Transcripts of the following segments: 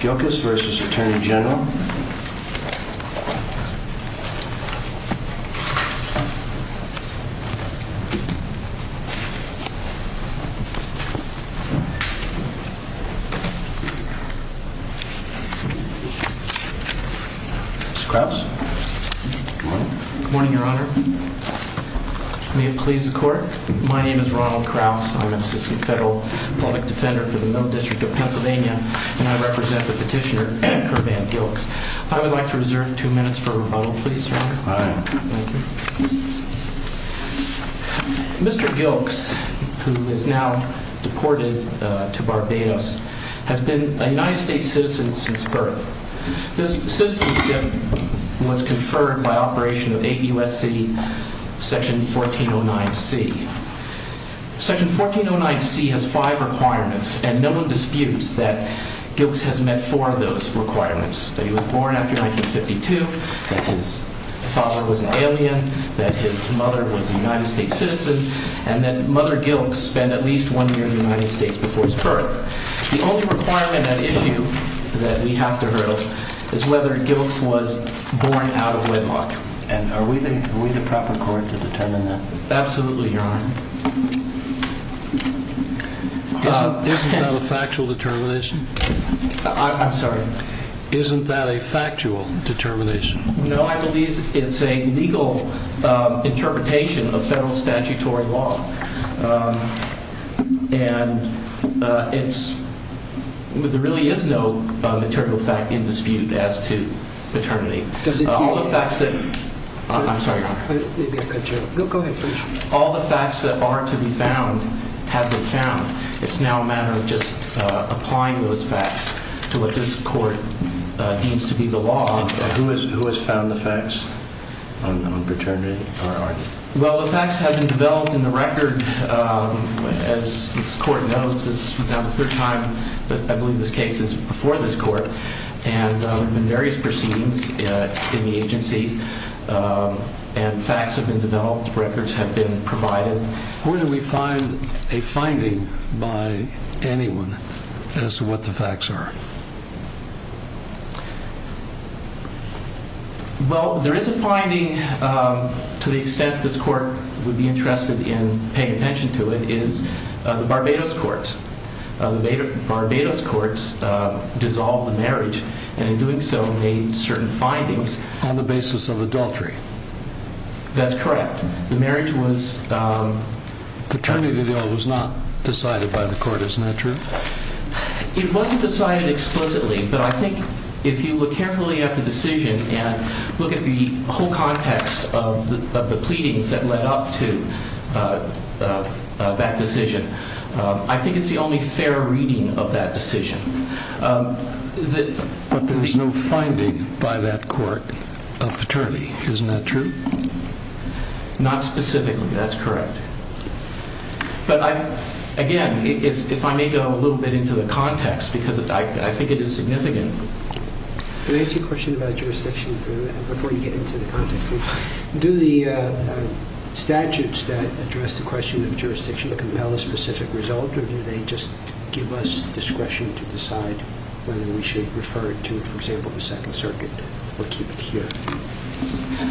Gilkes v. Atty Gen Mr. Krause Good morning, your honor May it please the court My name is Ronald Krause I'm an assistant federal public defender for the Middle District of Pennsylvania and I represent the petitioner, Kurt Van Gilkes I would like to reserve two minutes for rebuttal, please, your honor Aye Mr. Gilkes, who is now deported to Barbados has been a United States citizen since birth This citizenship was conferred by operation of 8 U.S.C. section 1409C Section 1409C has five requirements and no one disputes that Gilkes has met four of those requirements that he was born after 1952 that his father was an alien that his mother was a United States citizen and that Mother Gilkes spent at least one year in the United States before his birth The only requirement at issue that we have to hurdle is whether Gilkes was born out of wedlock And are we the proper court to determine that? Absolutely, your honor Isn't that a factual determination? I'm sorry Isn't that a factual determination? No, I believe it's a legal interpretation of federal statutory law And it's... There really is no material fact in dispute as to paternity All the facts that... I'm sorry, your honor Go ahead, please All the facts that are to be found have been found It's now a matter of just applying those facts to what this court deems to be the law Who has found the facts on paternity? Well, the facts have been developed in the record As this court knows, this is now the third time that I believe this case is before this court And there has been various proceedings in the agencies And facts have been developed, records have been provided Where do we find a finding by anyone as to what the facts are? Well, there is a finding to the extent this court would be interested in paying attention to it is the Barbados courts The Barbados courts dissolved the marriage and in doing so made certain findings on the basis of adultery That's correct The marriage was... The paternity deal was not decided by the court, isn't that true? It wasn't decided explicitly But I think if you look carefully at the decision and look at the whole context of the pleadings that led up to that decision I think it's the only fair reading of that decision But there is no finding by that court of paternity, isn't that true? Not specifically, that's correct But again, if I may go a little bit into the context because I think it is significant Can I ask you a question about jurisdiction before you get into the context? Do the statutes that address the question of jurisdiction compel a specific result or do they just give us discretion to decide whether we should refer it to, for example, the Second Circuit or keep it here?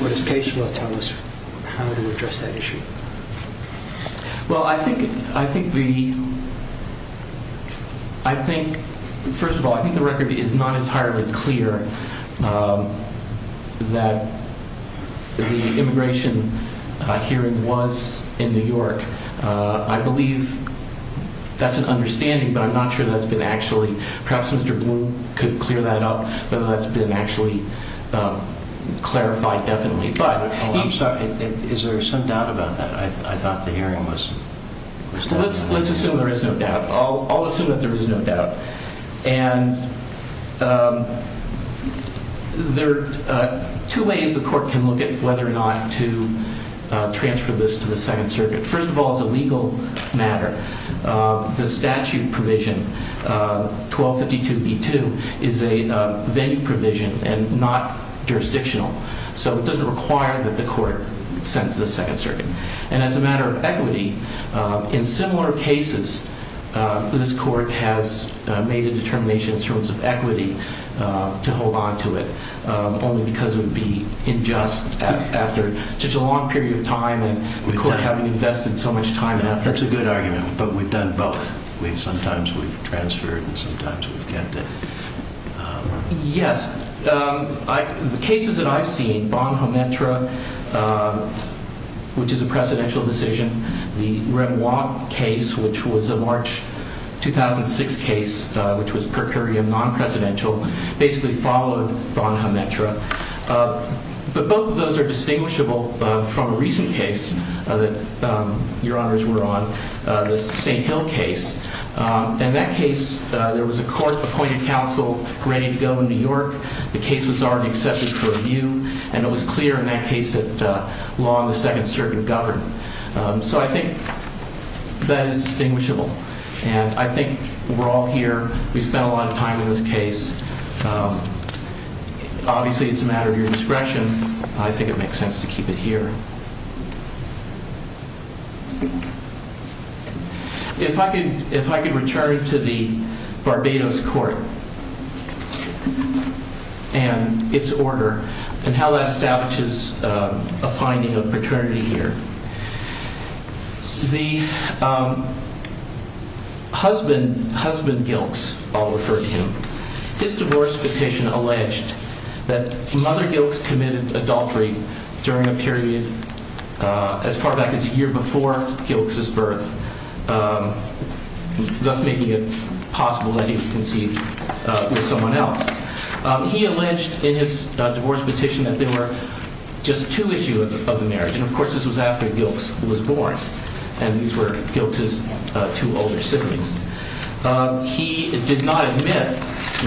Or does case law tell us how to address that issue? Well, I think the... I think... First of all, I think the record is not entirely clear that the immigration hearing was in New York I believe that's an understanding but I'm not sure that's been actually... Perhaps Mr. Bloom could clear that up whether that's been actually clarified definitely I'm sorry, is there some doubt about that? I thought the hearing was... Let's assume there is no doubt I'll assume that there is no doubt And there are two ways the court can look at whether or not to transfer this to the Second Circuit First of all, as a legal matter the statute provision 1252b2 is a venue provision and not jurisdictional so it doesn't require that the court send it to the Second Circuit And as a matter of equity in similar cases this court has made a determination in terms of equity to hold on to it only because it would be unjust after such a long period of time and the court having invested so much time and effort That's a good argument, but we've done both Sometimes we've transferred and sometimes we've kept it Yes The cases that I've seen Bonhametra which is a presidential decision the Rembrandt case which was a March 2006 case which was per curiam non-presidential basically followed Bonhametra But both of those are distinguishable from a recent case that your honors were on the St. Hill case In that case there was a court appointed counsel ready to go to New York the case was already accepted for review and it was clear in that case that law in the Second Circuit governed So I think that is distinguishable and I think we're all here we've spent a lot of time in this case Obviously it's a matter of your discretion I think it makes sense to keep it here If I could return to the Barbados court and its order and how that establishes a finding of paternity here The husband Gilks I'll refer to him His divorce petition alleged that mother Gilks committed adultery during a period as far back as a year before Gilks' birth thus making it possible that he was conceived with someone else He alleged in his divorce petition that there were just two issues of the marriage and of course this was after Gilks was born and these were Gilks' two older siblings He did not admit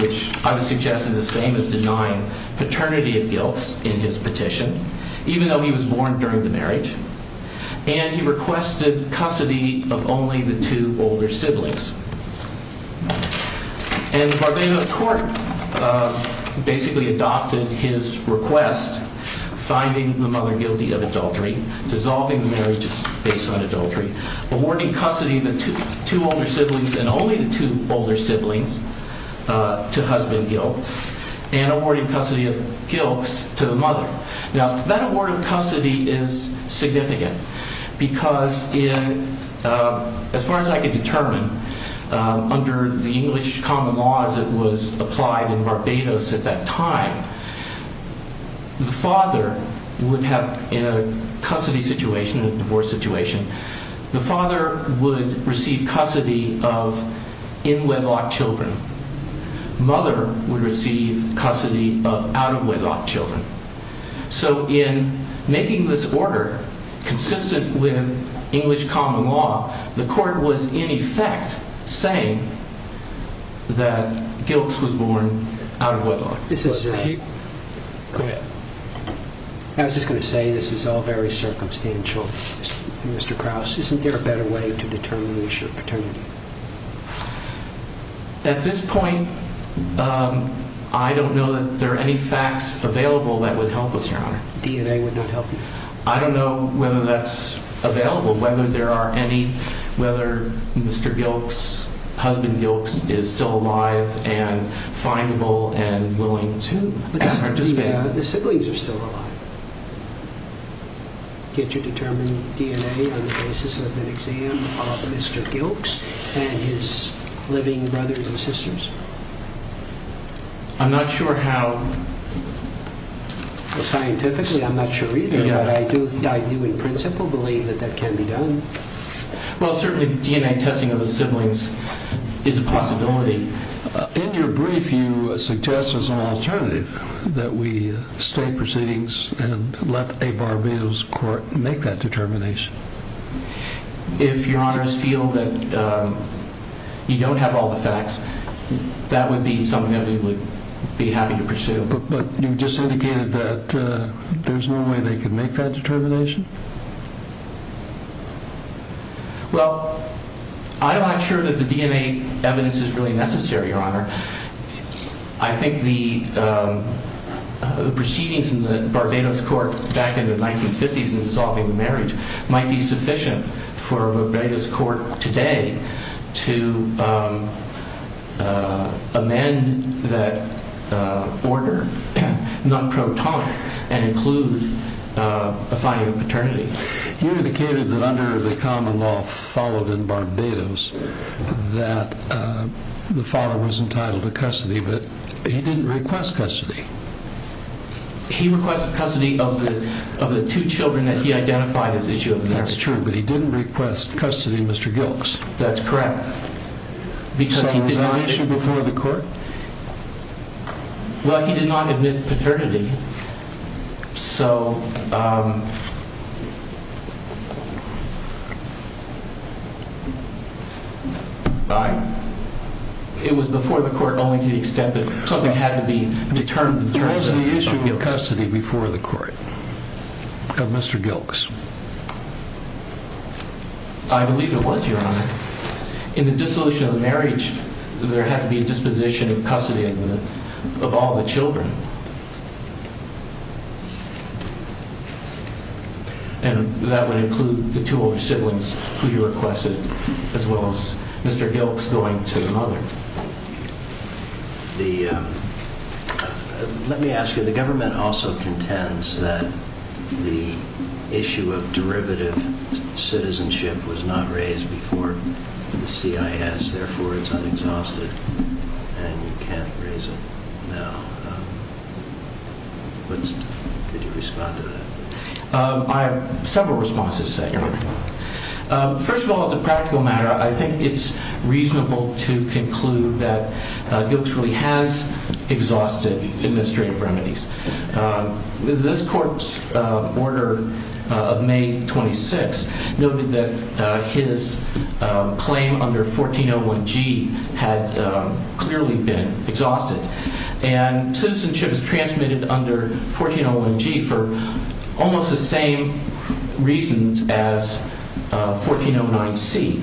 which I would suggest is the same as denying paternity of Gilks in his petition even though he was born during the marriage and he requested custody of only the two older siblings and the Barbados court basically adopted his request finding the mother guilty of adultery dissolving the marriage based on adultery awarding custody to two older siblings and only the two older siblings to husband Gilks and awarding custody of Gilks to the mother Now that award of custody is significant because as far as I can determine under the English common laws that was applied in Barbados at that time the father would have in a custody situation in a divorce situation the father would receive custody of in wedlock children mother would receive custody of out of wedlock children so in making this order consistent with English common law the court was in effect saying that Gilks was born out of wedlock I was just going to say this is all very at this point I don't know that there are any facts available that would help us DNA would not help I don't know whether that's available whether there are any whether Mr. Gilks husband Gilks is still alive and findable and willing to the siblings are still alive did you determine DNA on the basis of an exam of Mr. Gilks and his living brothers and sisters I'm not sure how scientifically I'm not sure either but I do in principle believe that that can be done well certainly DNA testing of siblings is a possibility in your brief you suggest as an alternative that we stay proceedings and let a Barbados court make that determination if your honors feel that you don't have all the facts that would be something that we would be happy to pursue but you just indicated that there's no way they could make that determination well I'm not sure that the DNA evidence is really necessary your honor I think the proceedings in the Barbados court back in the 1950's in solving marriage might be sufficient for Barbados court today to amend that order not pro tonic and include a finding of paternity you indicated that under the common law followed in Barbados that the father was entitled to custody but he didn't request custody he requested custody of the two children that he identified as his children that's true but he didn't request custody of Mr. Gilks that's correct so was that an issue before the court well he did not admit paternity so it was before the court only to the extent that something had to be determined before the court of Mr. Gilks I believe it was your honor in the dissolution of marriage there had to be a disposition of custody of all the children and that would include the two older siblings who he requested as well as Mr. Gilks going to the mother so the let me ask you the government also contends that the issue of derivative citizenship was not raised before the CIS therefore it's unexhausted and you can't raise it now could you respond to that I have several responses first of all as a practical matter I think it's reasonable to conclude that Gilks really has exhausted administrative remedies this court's order of May 26 noted that his claim under 1401G had clearly been exhausted and citizenship is transmitted under 1401G for almost the same reasons as 1409C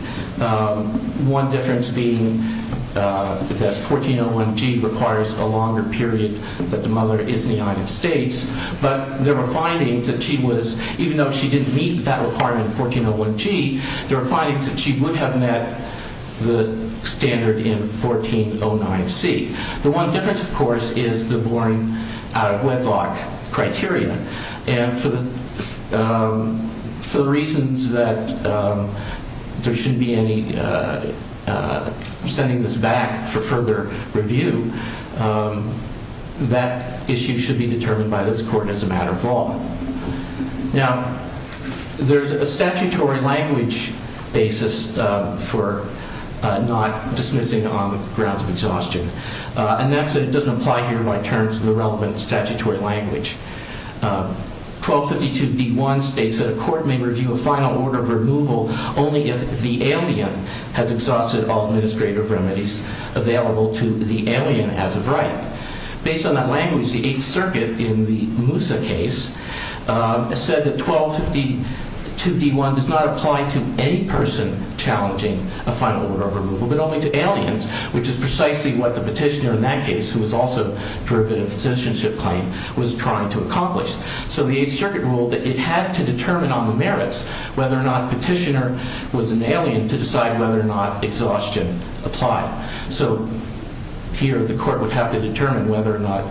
one difference being that 1401G requires a longer period that the mother is in the United States but there were findings that she was, even though she didn't meet that requirement in 1401G there were findings that she would have met the standard in 1409C the one difference of course is the born out of wedlock criteria and for the reasons that there should be any sending this back for further review that issue should be determined by this court as a matter of law now there's a statutory language basis for not dismissing on grounds of exhaustion and that doesn't apply here by terms of the relevant statutory language 1252 D1 states that a court may review a final order of removal only if the alien has exhausted all administrative remedies available to the alien as of right based on that language the 8th circuit in the Moussa case said that 1252 D1 does not apply to any person challenging a final order of removal but only to aliens which is precisely what the petitioner in that case who was also for a bit of citizenship claim was trying to it had to determine on the merits whether or not petitioner was an alien to decide whether or not exhaustion applied so here the court would have to determine whether or not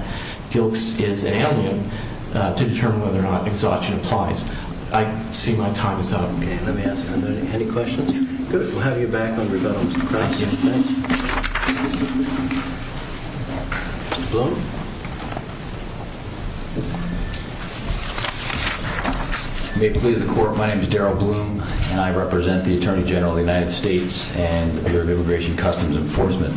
Gilkes is an alien to determine whether or not exhaustion applies I see my time is up any questions? we'll have you back on rebuttal Mr. Bloom My name is Darrell Bloom and I represent the Attorney General of the United States and the Bureau of Immigration and Customs Enforcement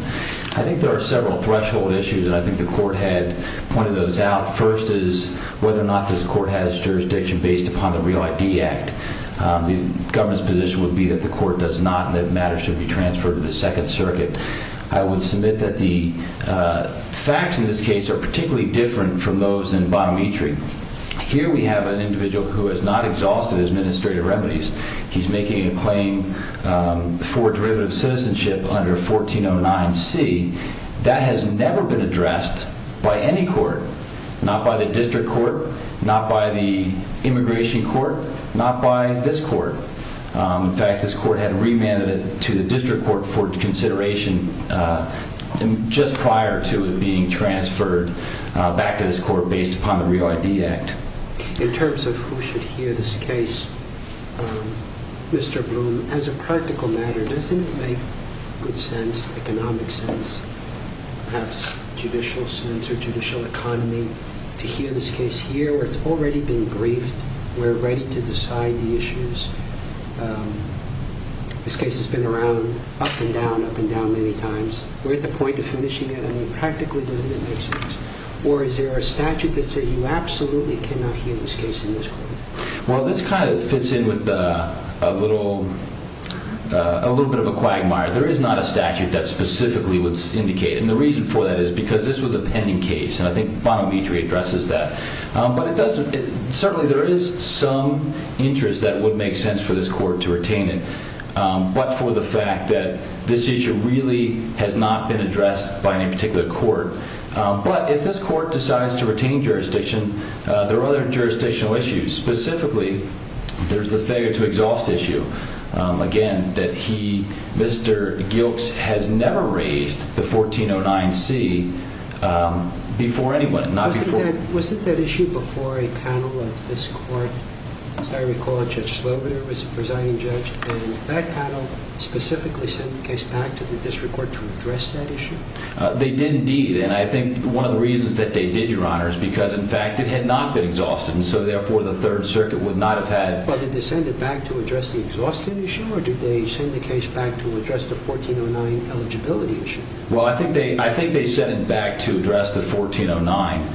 I think there are several threshold issues and I think the court had pointed those out first is whether or not this court has jurisdiction based upon the Real ID Act the government's position would be that the court does not and that matters should be transferred to the 2nd circuit I would submit that the facts in this case are particularly different from those in Bonometri here we have an individual who has not exhausted his administrative remedies he's making a claim for derivative citizenship under 1409C that has never been addressed by any court not by the district court not by the immigration court not by this court in fact this court had remanded it to the district court for consideration just prior to it being transferred back to this court based upon the Real ID Act In terms of who should hear this case Mr. Bloom as a practical matter doesn't it make good sense, economic sense perhaps judicial sense or judicial economy to hear this case here where it's already been briefed we're ready to decide the issues this case has been around up and down many times we're at the point of finishing it practically doesn't it make sense or is there a statute that says you absolutely cannot hear this case in this court well this kind of fits in with a little a little bit of a quagmire there is not a statute that specifically would indicate and the reason for that is because this was a pending case and I think Bonometri addresses that but it doesn't certainly there is some interest that would make sense for this court to retain it but for the fact that this issue really has not been addressed by any particular court but if this court decides to retain jurisdiction there are other jurisdictional issues specifically there's the failure to exhaust issue again that he Mr. Gilks has never raised the 1409C before anyone not before Was it that issue before a panel of this court as I recall Judge Slobinar was the presiding judge and that panel specifically sent the case back to the district court to address that issue they did indeed and I think one of the reasons that they did your honor is because in fact it had not been exhausted and so therefore the third circuit would not have had but did they send it back to address the exhaustion issue or did they send the case back to address the 1409 eligibility issue well I think they sent it back to address the 1409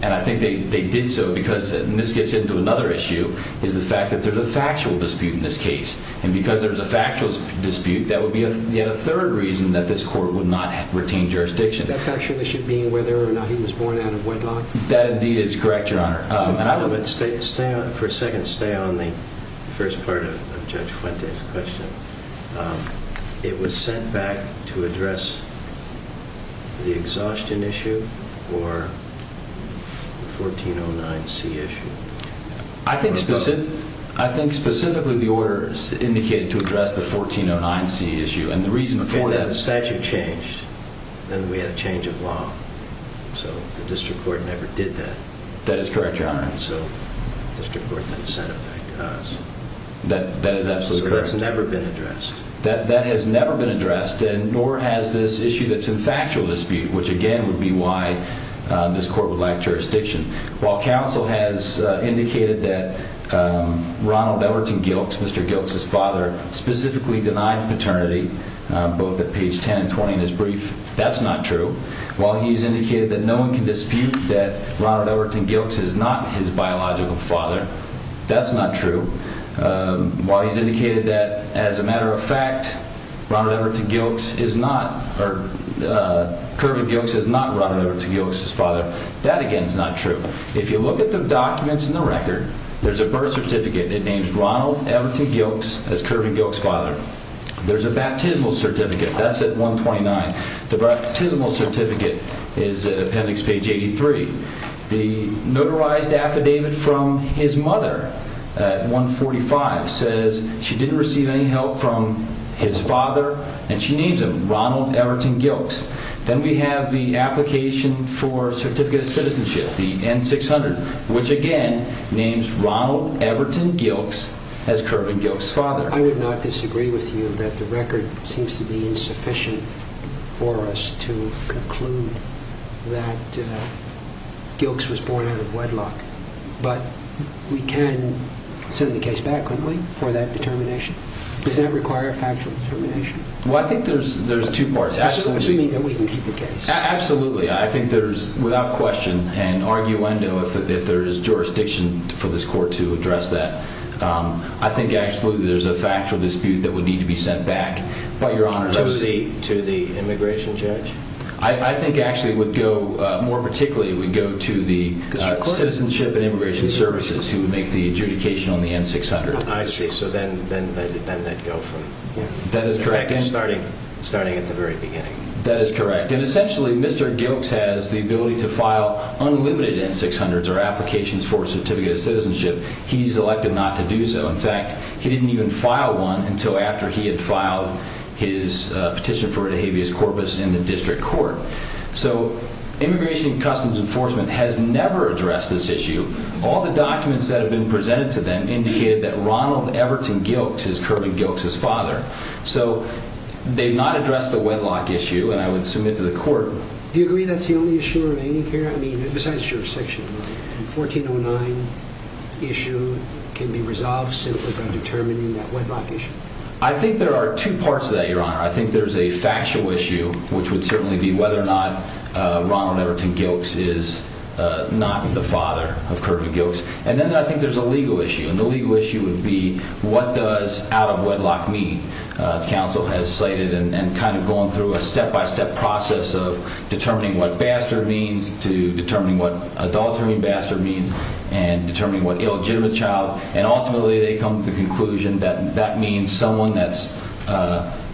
and I think they did so because and this gets into another issue is the fact that there's a factual dispute in this case and because there's a factual dispute that would be yet a third reason that this court would not have retained jurisdiction that factual issue being whether or not he was born out of wedlock that indeed is correct your honor for a second stay on the first part of Judge Fuente's question it was sent back to address the exhaustion issue or the 1409C issue I think specifically the order indicated to address the 1409C issue and the reason for that statute changed then we had a change of law so the district court never did that that is correct your honor so the district court then sent it back to us that is absolutely correct so that's never been addressed that has never been addressed and nor has this issue that's in factual dispute which again would be why this court would lack jurisdiction while counsel has indicated that Ronald Everton Gilks Mr. Gilks his father specifically denied paternity both at page 10 and 20 in his brief that's not true while he's indicated that no one can dispute that Ronald Everton Gilks is not his biological father that's not true while he's indicated that as a matter of fact Ronald Everton Gilks is not or Kirby Gilks is not Ronald Everton Gilks' father that again is not true if you look at the documents in the record there's a birth certificate it names Ronald Everton Gilks as Kirby Gilks' father there's a baptismal certificate that's at 129 the baptismal certificate is at appendix page 83 the notarized affidavit from his mother at 145 says she didn't receive any help from his father and she names him Ronald Everton Gilks then we have the application for certificate of citizenship the N-600 which again names Ronald Everton Gilks as Kirby Gilks' father I would not disagree with you that the record seems to be insufficient for us to conclude that Gilks was born out of wedlock but we can send the case back wouldn't we for that determination does that require factual determination well I think there's two parts absolutely I think there's without question an arguendo if there is jurisdiction for this court to address that I think absolutely there's a factual dispute that would need to be sent back but your honor to the immigration judge I think actually it would go more particularly it would go to the citizenship and immigration services who would make the adjudication on the N-600 I see so then then they'd go from starting at the very beginning that is correct and essentially Mr. Gilks has the ability to file unlimited N-600s or applications for certificate of citizenship he's elected not to do so in fact he didn't even file one until after he had filed his petition for De Havilland's corpus in the district court so immigration customs enforcement has never addressed this issue all the documents that have been presented to them indicated that Ronald Everton Gilks is Kirby Gilks' father so they've not addressed the wedlock issue and I would submit to the court do you agree that's the only issue remaining here I mean besides jurisdiction 1409 issue can be resolved simply by determining that wedlock issue I think there are two parts to that your honor I think there's a factual issue which would certainly be whether or not Ronald Everton Gilks is not the father of Kirby Gilks and then I think there's a legal issue and the legal issue would be what does out of wedlock mean counsel has cited and kind of going through a step by step process of determining what bastard means to determining what adultery and bastard means and determining what illegitimate child and ultimately they come to the conclusion that that means someone that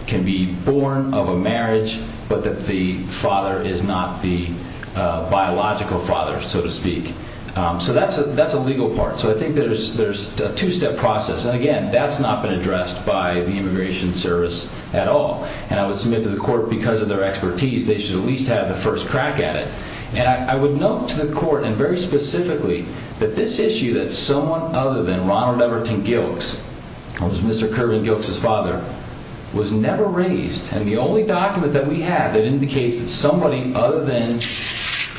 can be born of a marriage but that the father is not the biological father so to speak so that's a legal part so I think there's a two step process and again that's not been addressed by the immigration service at all and I would submit to the court because of their expertise they should at least have the first crack at it and I would note to the court and very specifically that this issue that someone other than Ronald Everton Gilks was Mr. Kirby Gilks' father was never raised and the only document that we have that indicates that somebody other than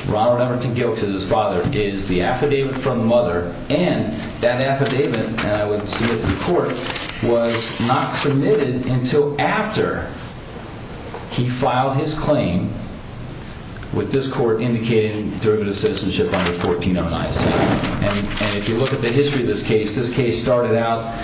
Ronald Everton Gilks is his father is the affidavit from the mother and that affidavit that I would submit to the court was not submitted until after he filed his claim with this court indicating derivative citizenship under 1409C and if you look at the history of this case this case started out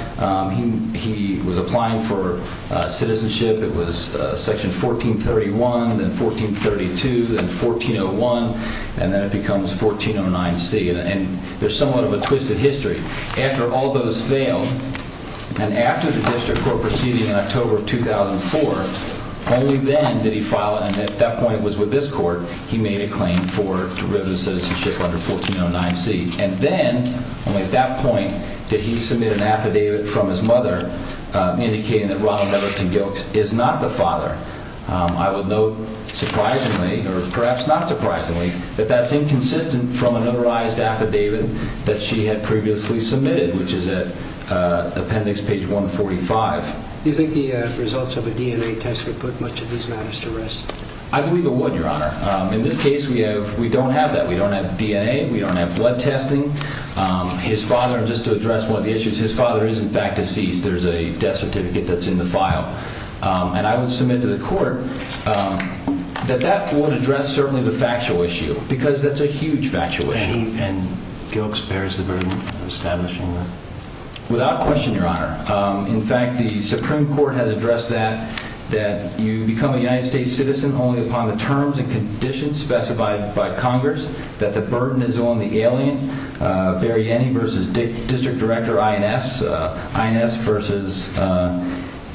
he was applying for citizenship it was section 1431 then 1432 then 1401 and then it becomes 1409C and there's somewhat of a twisted history after all those failed and after the district court proceeding in October of 2004 only then did he file and at that point it was with this court he made a claim for derivative citizenship under 1409C and then only at that point did he submit an affidavit from his mother indicating that Ronald Everton Gilks is not the father I would note surprisingly or perhaps not surprisingly that that's inconsistent from a notarized affidavit that she had previously submitted which is at appendix page 145 Do you think the results of a DNA test would put much of these matters to rest? I believe it would your honor in this case we don't have that we don't have DNA we don't have blood testing his father just to address one of the issues his father is in fact deceased there's a death certificate that's in the court that that would address certainly the factual issue because that's a huge factual issue and Gilks bears the burden of establishing that? without question your honor in fact the supreme court has addressed that that you become a United States citizen only upon the terms and conditions specified by congress that the burden is on the alien Barry Annie versus district director INS INS versus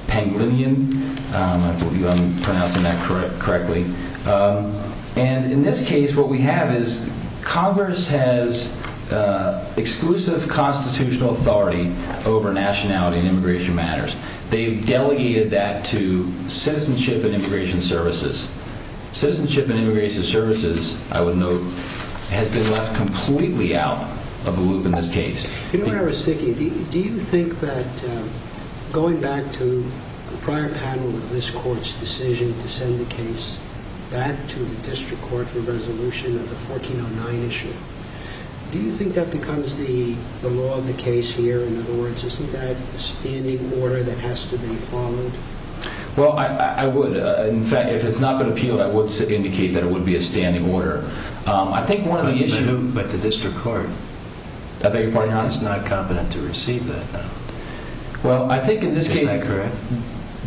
Pangolinian I hope I'm pronouncing that correctly and in this case what we have is congress has exclusive constitutional authority over nationality and immigration matters they've delegated that to citizenship and immigration services citizenship and immigration services I would note has been left completely out of the loop in this case you know what I was thinking do you think that going back to the prior panel of this court's decision to send the case back to the district court for resolution of the 1409 issue do you think that becomes the law of the case here in other words isn't that a standing order that has to be followed well I would in fact if it's not been appealed I would indicate that it would be a standing order I think one of the issues is not the statute but the district court I beg your pardon your honor it's not competent to receive that well I think in this case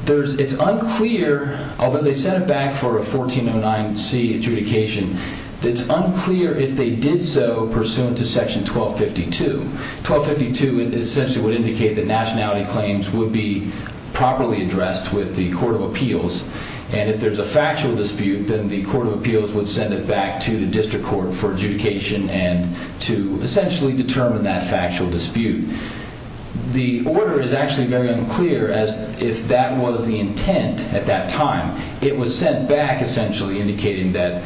it's unclear although they sent it back for a 1409c adjudication it's unclear if they did so pursuant to section 1252 1252 essentially would indicate that nationality claims would be properly addressed with the court of appeals and if there's a factual dispute then the court of appeals would send it back to the district court for adjudication and to essentially determine that factual dispute the order is actually very unclear as if that was the intent at that time it was sent back essentially indicating that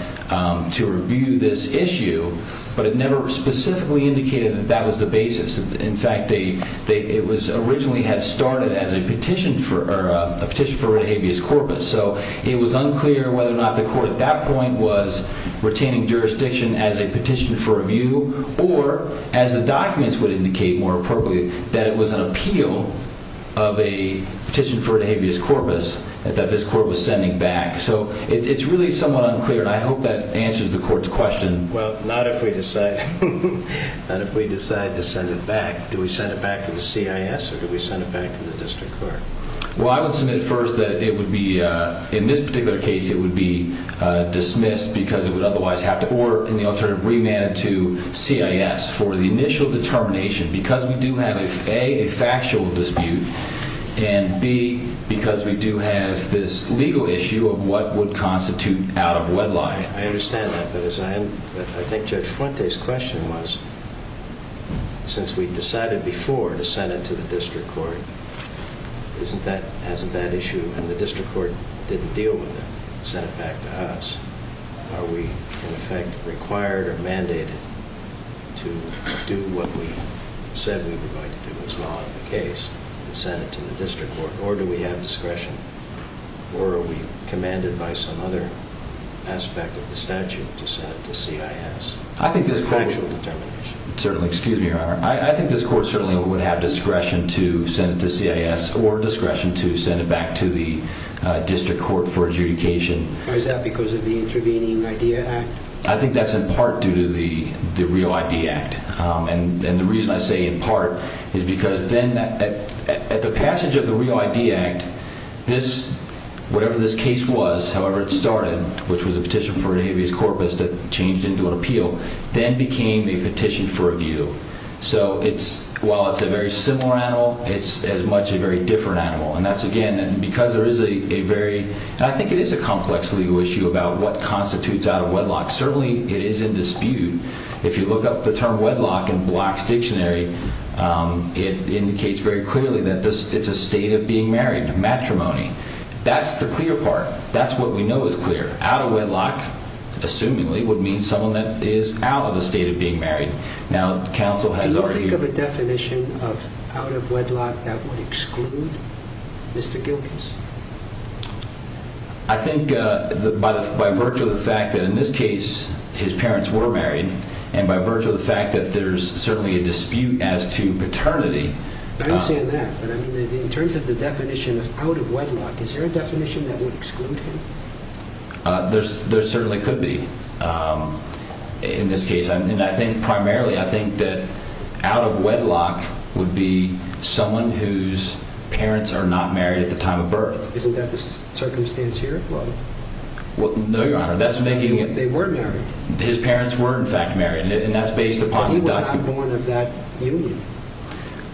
to review this issue but it never specifically indicated that that was the basis in fact they originally had started as a petition for a habeas corpus so it was unclear whether or not the court at that point was retaining jurisdiction as a petition for review or as the documents would indicate more appropriately that it was an appeal of a petition for a habeas corpus that this court was sending back so it's really somewhat unclear and I hope that answers the court's question well not if we decide not if we decide to send it back do we send it back to the CIS or do we send it back to the district court well I would submit first that it would be in this particular case it would be dismissed because it would otherwise have to or in the alternative remand it to CIS for the initial determination because we do have a factual dispute and b because we do have this legal issue of what would constitute out of wedlock I understand that but as I think Judge Fuente's question was since we decided before to send it to the district court isn't that isn't that issue and the district court didn't deal with it and sent it back to us are we in effect required or mandated to do what we said we were going to do as law of the case and send it to the district court or do we have discretion or are we commanded by some other aspect of the statute to send it to CIS I think this court certainly excuse me your honor I think this court certainly would have discretion to send it to CIS or discretion to send it back to the district court for adjudication why is that because of the intervening idea act I think that's in part due to the real idea act and the reason I say in part is because then at the passage of the real idea act this whatever this case was however it started which was a petition for habeas corpus that changed into an appeal then became a petition for review so it's while it's a very similar animal it's as much a very different animal and that's again because there is a very I think it is a complex legal issue about what constitutes out of wedlock certainly it is in dispute if you look up the term wedlock in dictionary it indicates very clearly that it's a state of being married matrimony that's the clear part that's what we know is clear out of wedlock assumingly would mean someone that is out of the state of being married now council has already definition of out of wedlock that would exclude Mr. Gilkes I think by virtue of the fact that in this case his parents were married and by virtue of the fact that there's certainly a dispute as to paternity I understand that but I mean in terms of the definition of out of wedlock is there a definition that would exclude him there certainly could be in this case primarily I think that out of wedlock would be someone whose parents are not married at the time of birth isn't that the circumstance here no your honor they were married his parents were in fact married he was not born of that union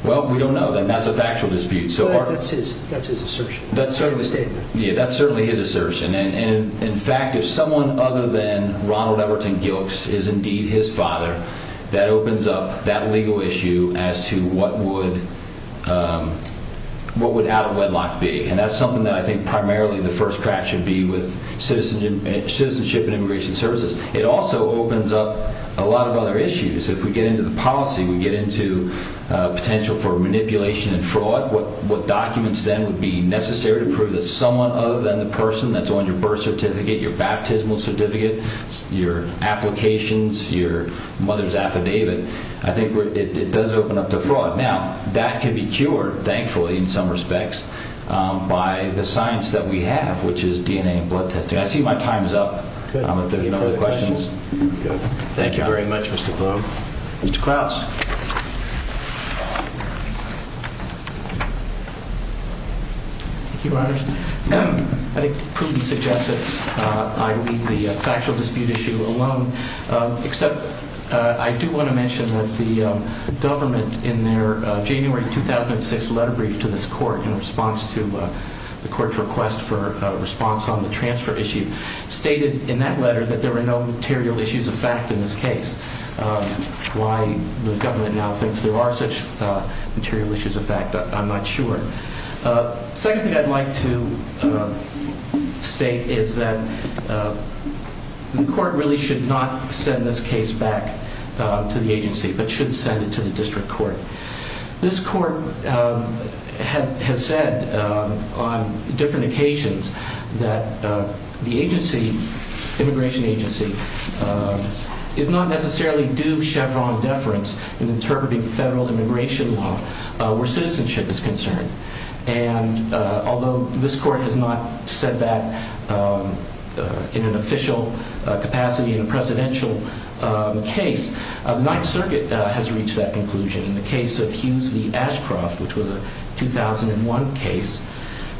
well we don't know that's a factual dispute that's his assertion that's certainly his assertion and in fact if someone other than Ronald Everton Gilkes is indeed his father that opens up that legal issue as to what would what would out of wedlock be and that's something that I think primarily the first crack should be with citizenship and immigration services it also opens up a lot of other issues if we get into the policy we get into potential for manipulation and fraud what documents then would be necessary to prove that someone other than the person that's on your birth certificate, your baptismal certificate, your applications your mother's affidavit I think it does open up to fraud now that can be cured thankfully in some respects by the science that we have which is DNA and blood testing I see my time's up if there's any other questions thank you very much Mr. Bloom Mr. Krause I think Putin suggests that I leave the factual dispute issue alone except I do want to mention that the government in their January 2006 letter brief to this court in response to the court's request for response on the transfer issue stated in that letter that there were no material issues of fact in this case why the government now thinks there are such material issues of fact I'm not sure second thing I'd like to state is that the court really should not send this case back to the agency but should send it to the district court this court has said on different occasions that the agency immigration agency is not necessarily due Chevron deference in interpreting federal immigration law where citizenship is concerned and although this court has not said that in an official capacity in a presidential case the 9th circuit has reached that conclusion in the case of Hughes v. Ashcroft which was a 2001 case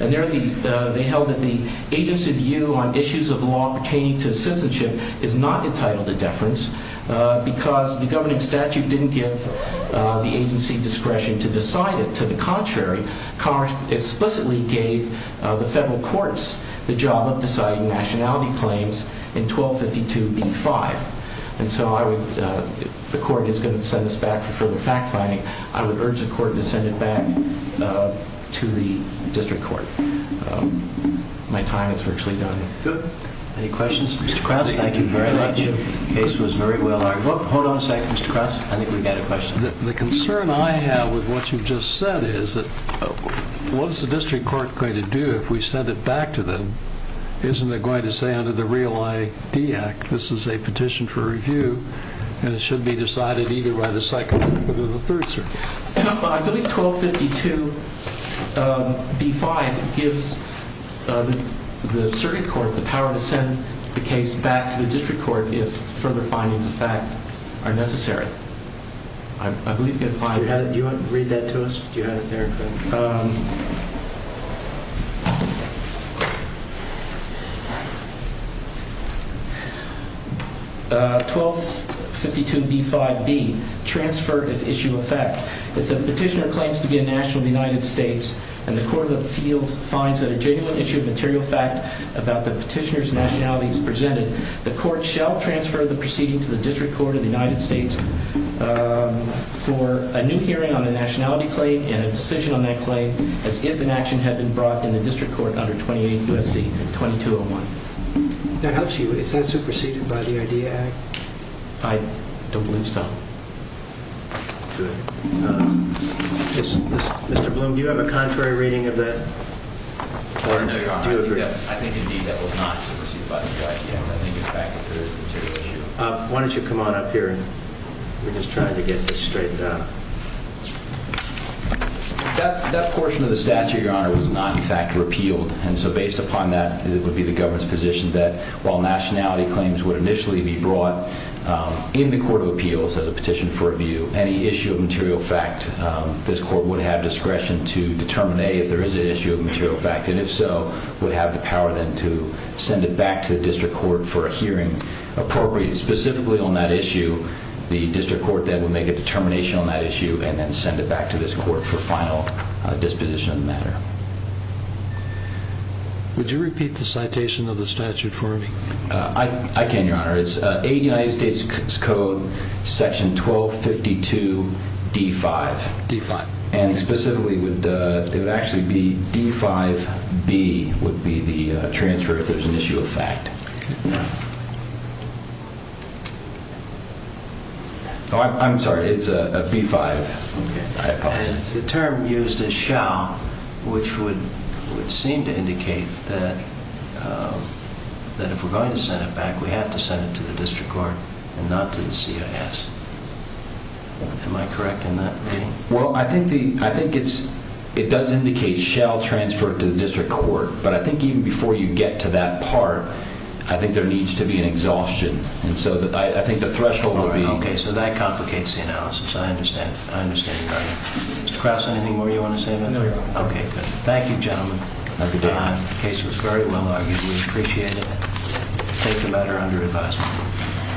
and they held that the agency view on issues of law pertaining to citizenship is not entitled to deference because the governing statute didn't give the agency discretion to decide it to the contrary Congress explicitly gave the federal courts the job of deciding nationality claims in 1252b-5 and so I would if the court is going to send this back for further fact finding I would urge the court to send it back to the district court my time is virtually done any questions Mr. Krauss? thank you very much hold on a second Mr. Krauss I think we've got a question the concern I have with what you've just said is that what's the district court going to do if we send it back to them isn't it going to say under the Real ID Act this is a petition for review and it should be decided either by the second or the third circuit I believe 1252b-5 gives the circuit court the power to send the case back to the district court if further findings of fact are necessary do you want to read that to us? do you have it there? 1252b-5b transfer of issue of fact if the petitioner claims to be a national of the United States and the court of appeals finds that a genuine issue of material fact about the petitioner's nationality is presented, the court shall transfer the proceeding to the district court of the United States for a new hearing on the nationality claim and a decision on that claim as if an action had been brought in the district court under 28 U.S.C. 2201 that helps you, is that superseded by the ID Act? I don't believe so good Mr. Bloom do you have a contrary reading of that? I think indeed that was not superseded by the ID Act I think in fact if there is a material issue why don't you come on up here we're just trying to get this straightened out that portion of the statute your honor was not in fact repealed and so based upon that it would be the government's position that while nationality claims would initially be brought in the court of appeals as a petition for review any issue of material fact this court would have discretion to and if so would have the power then to send it back to the district court for a hearing appropriate specifically on that issue the district court then would make a determination on that issue and then send it back to this court for final disposition of the matter would you repeat the citation of the statute for me? I can your honor it's United States Code section 1252 D5 and specifically it would actually be D5B would be the transfer if there's an issue of fact I'm sorry it's a B5 the term used is shall which would seem to indicate that that if we're going to send it back we have to send it to the district court and not to the CIS am I correct in that reading? well I think it does indicate shall transfer to the district court but I think even before you get to that part I think there needs to be an exhaustion and so I think the threshold will be ok so that complicates the analysis I understand your argument Mr. Krause anything more you want to say about that? thank you gentlemen the case was very well argued we appreciate it take the matter under advisement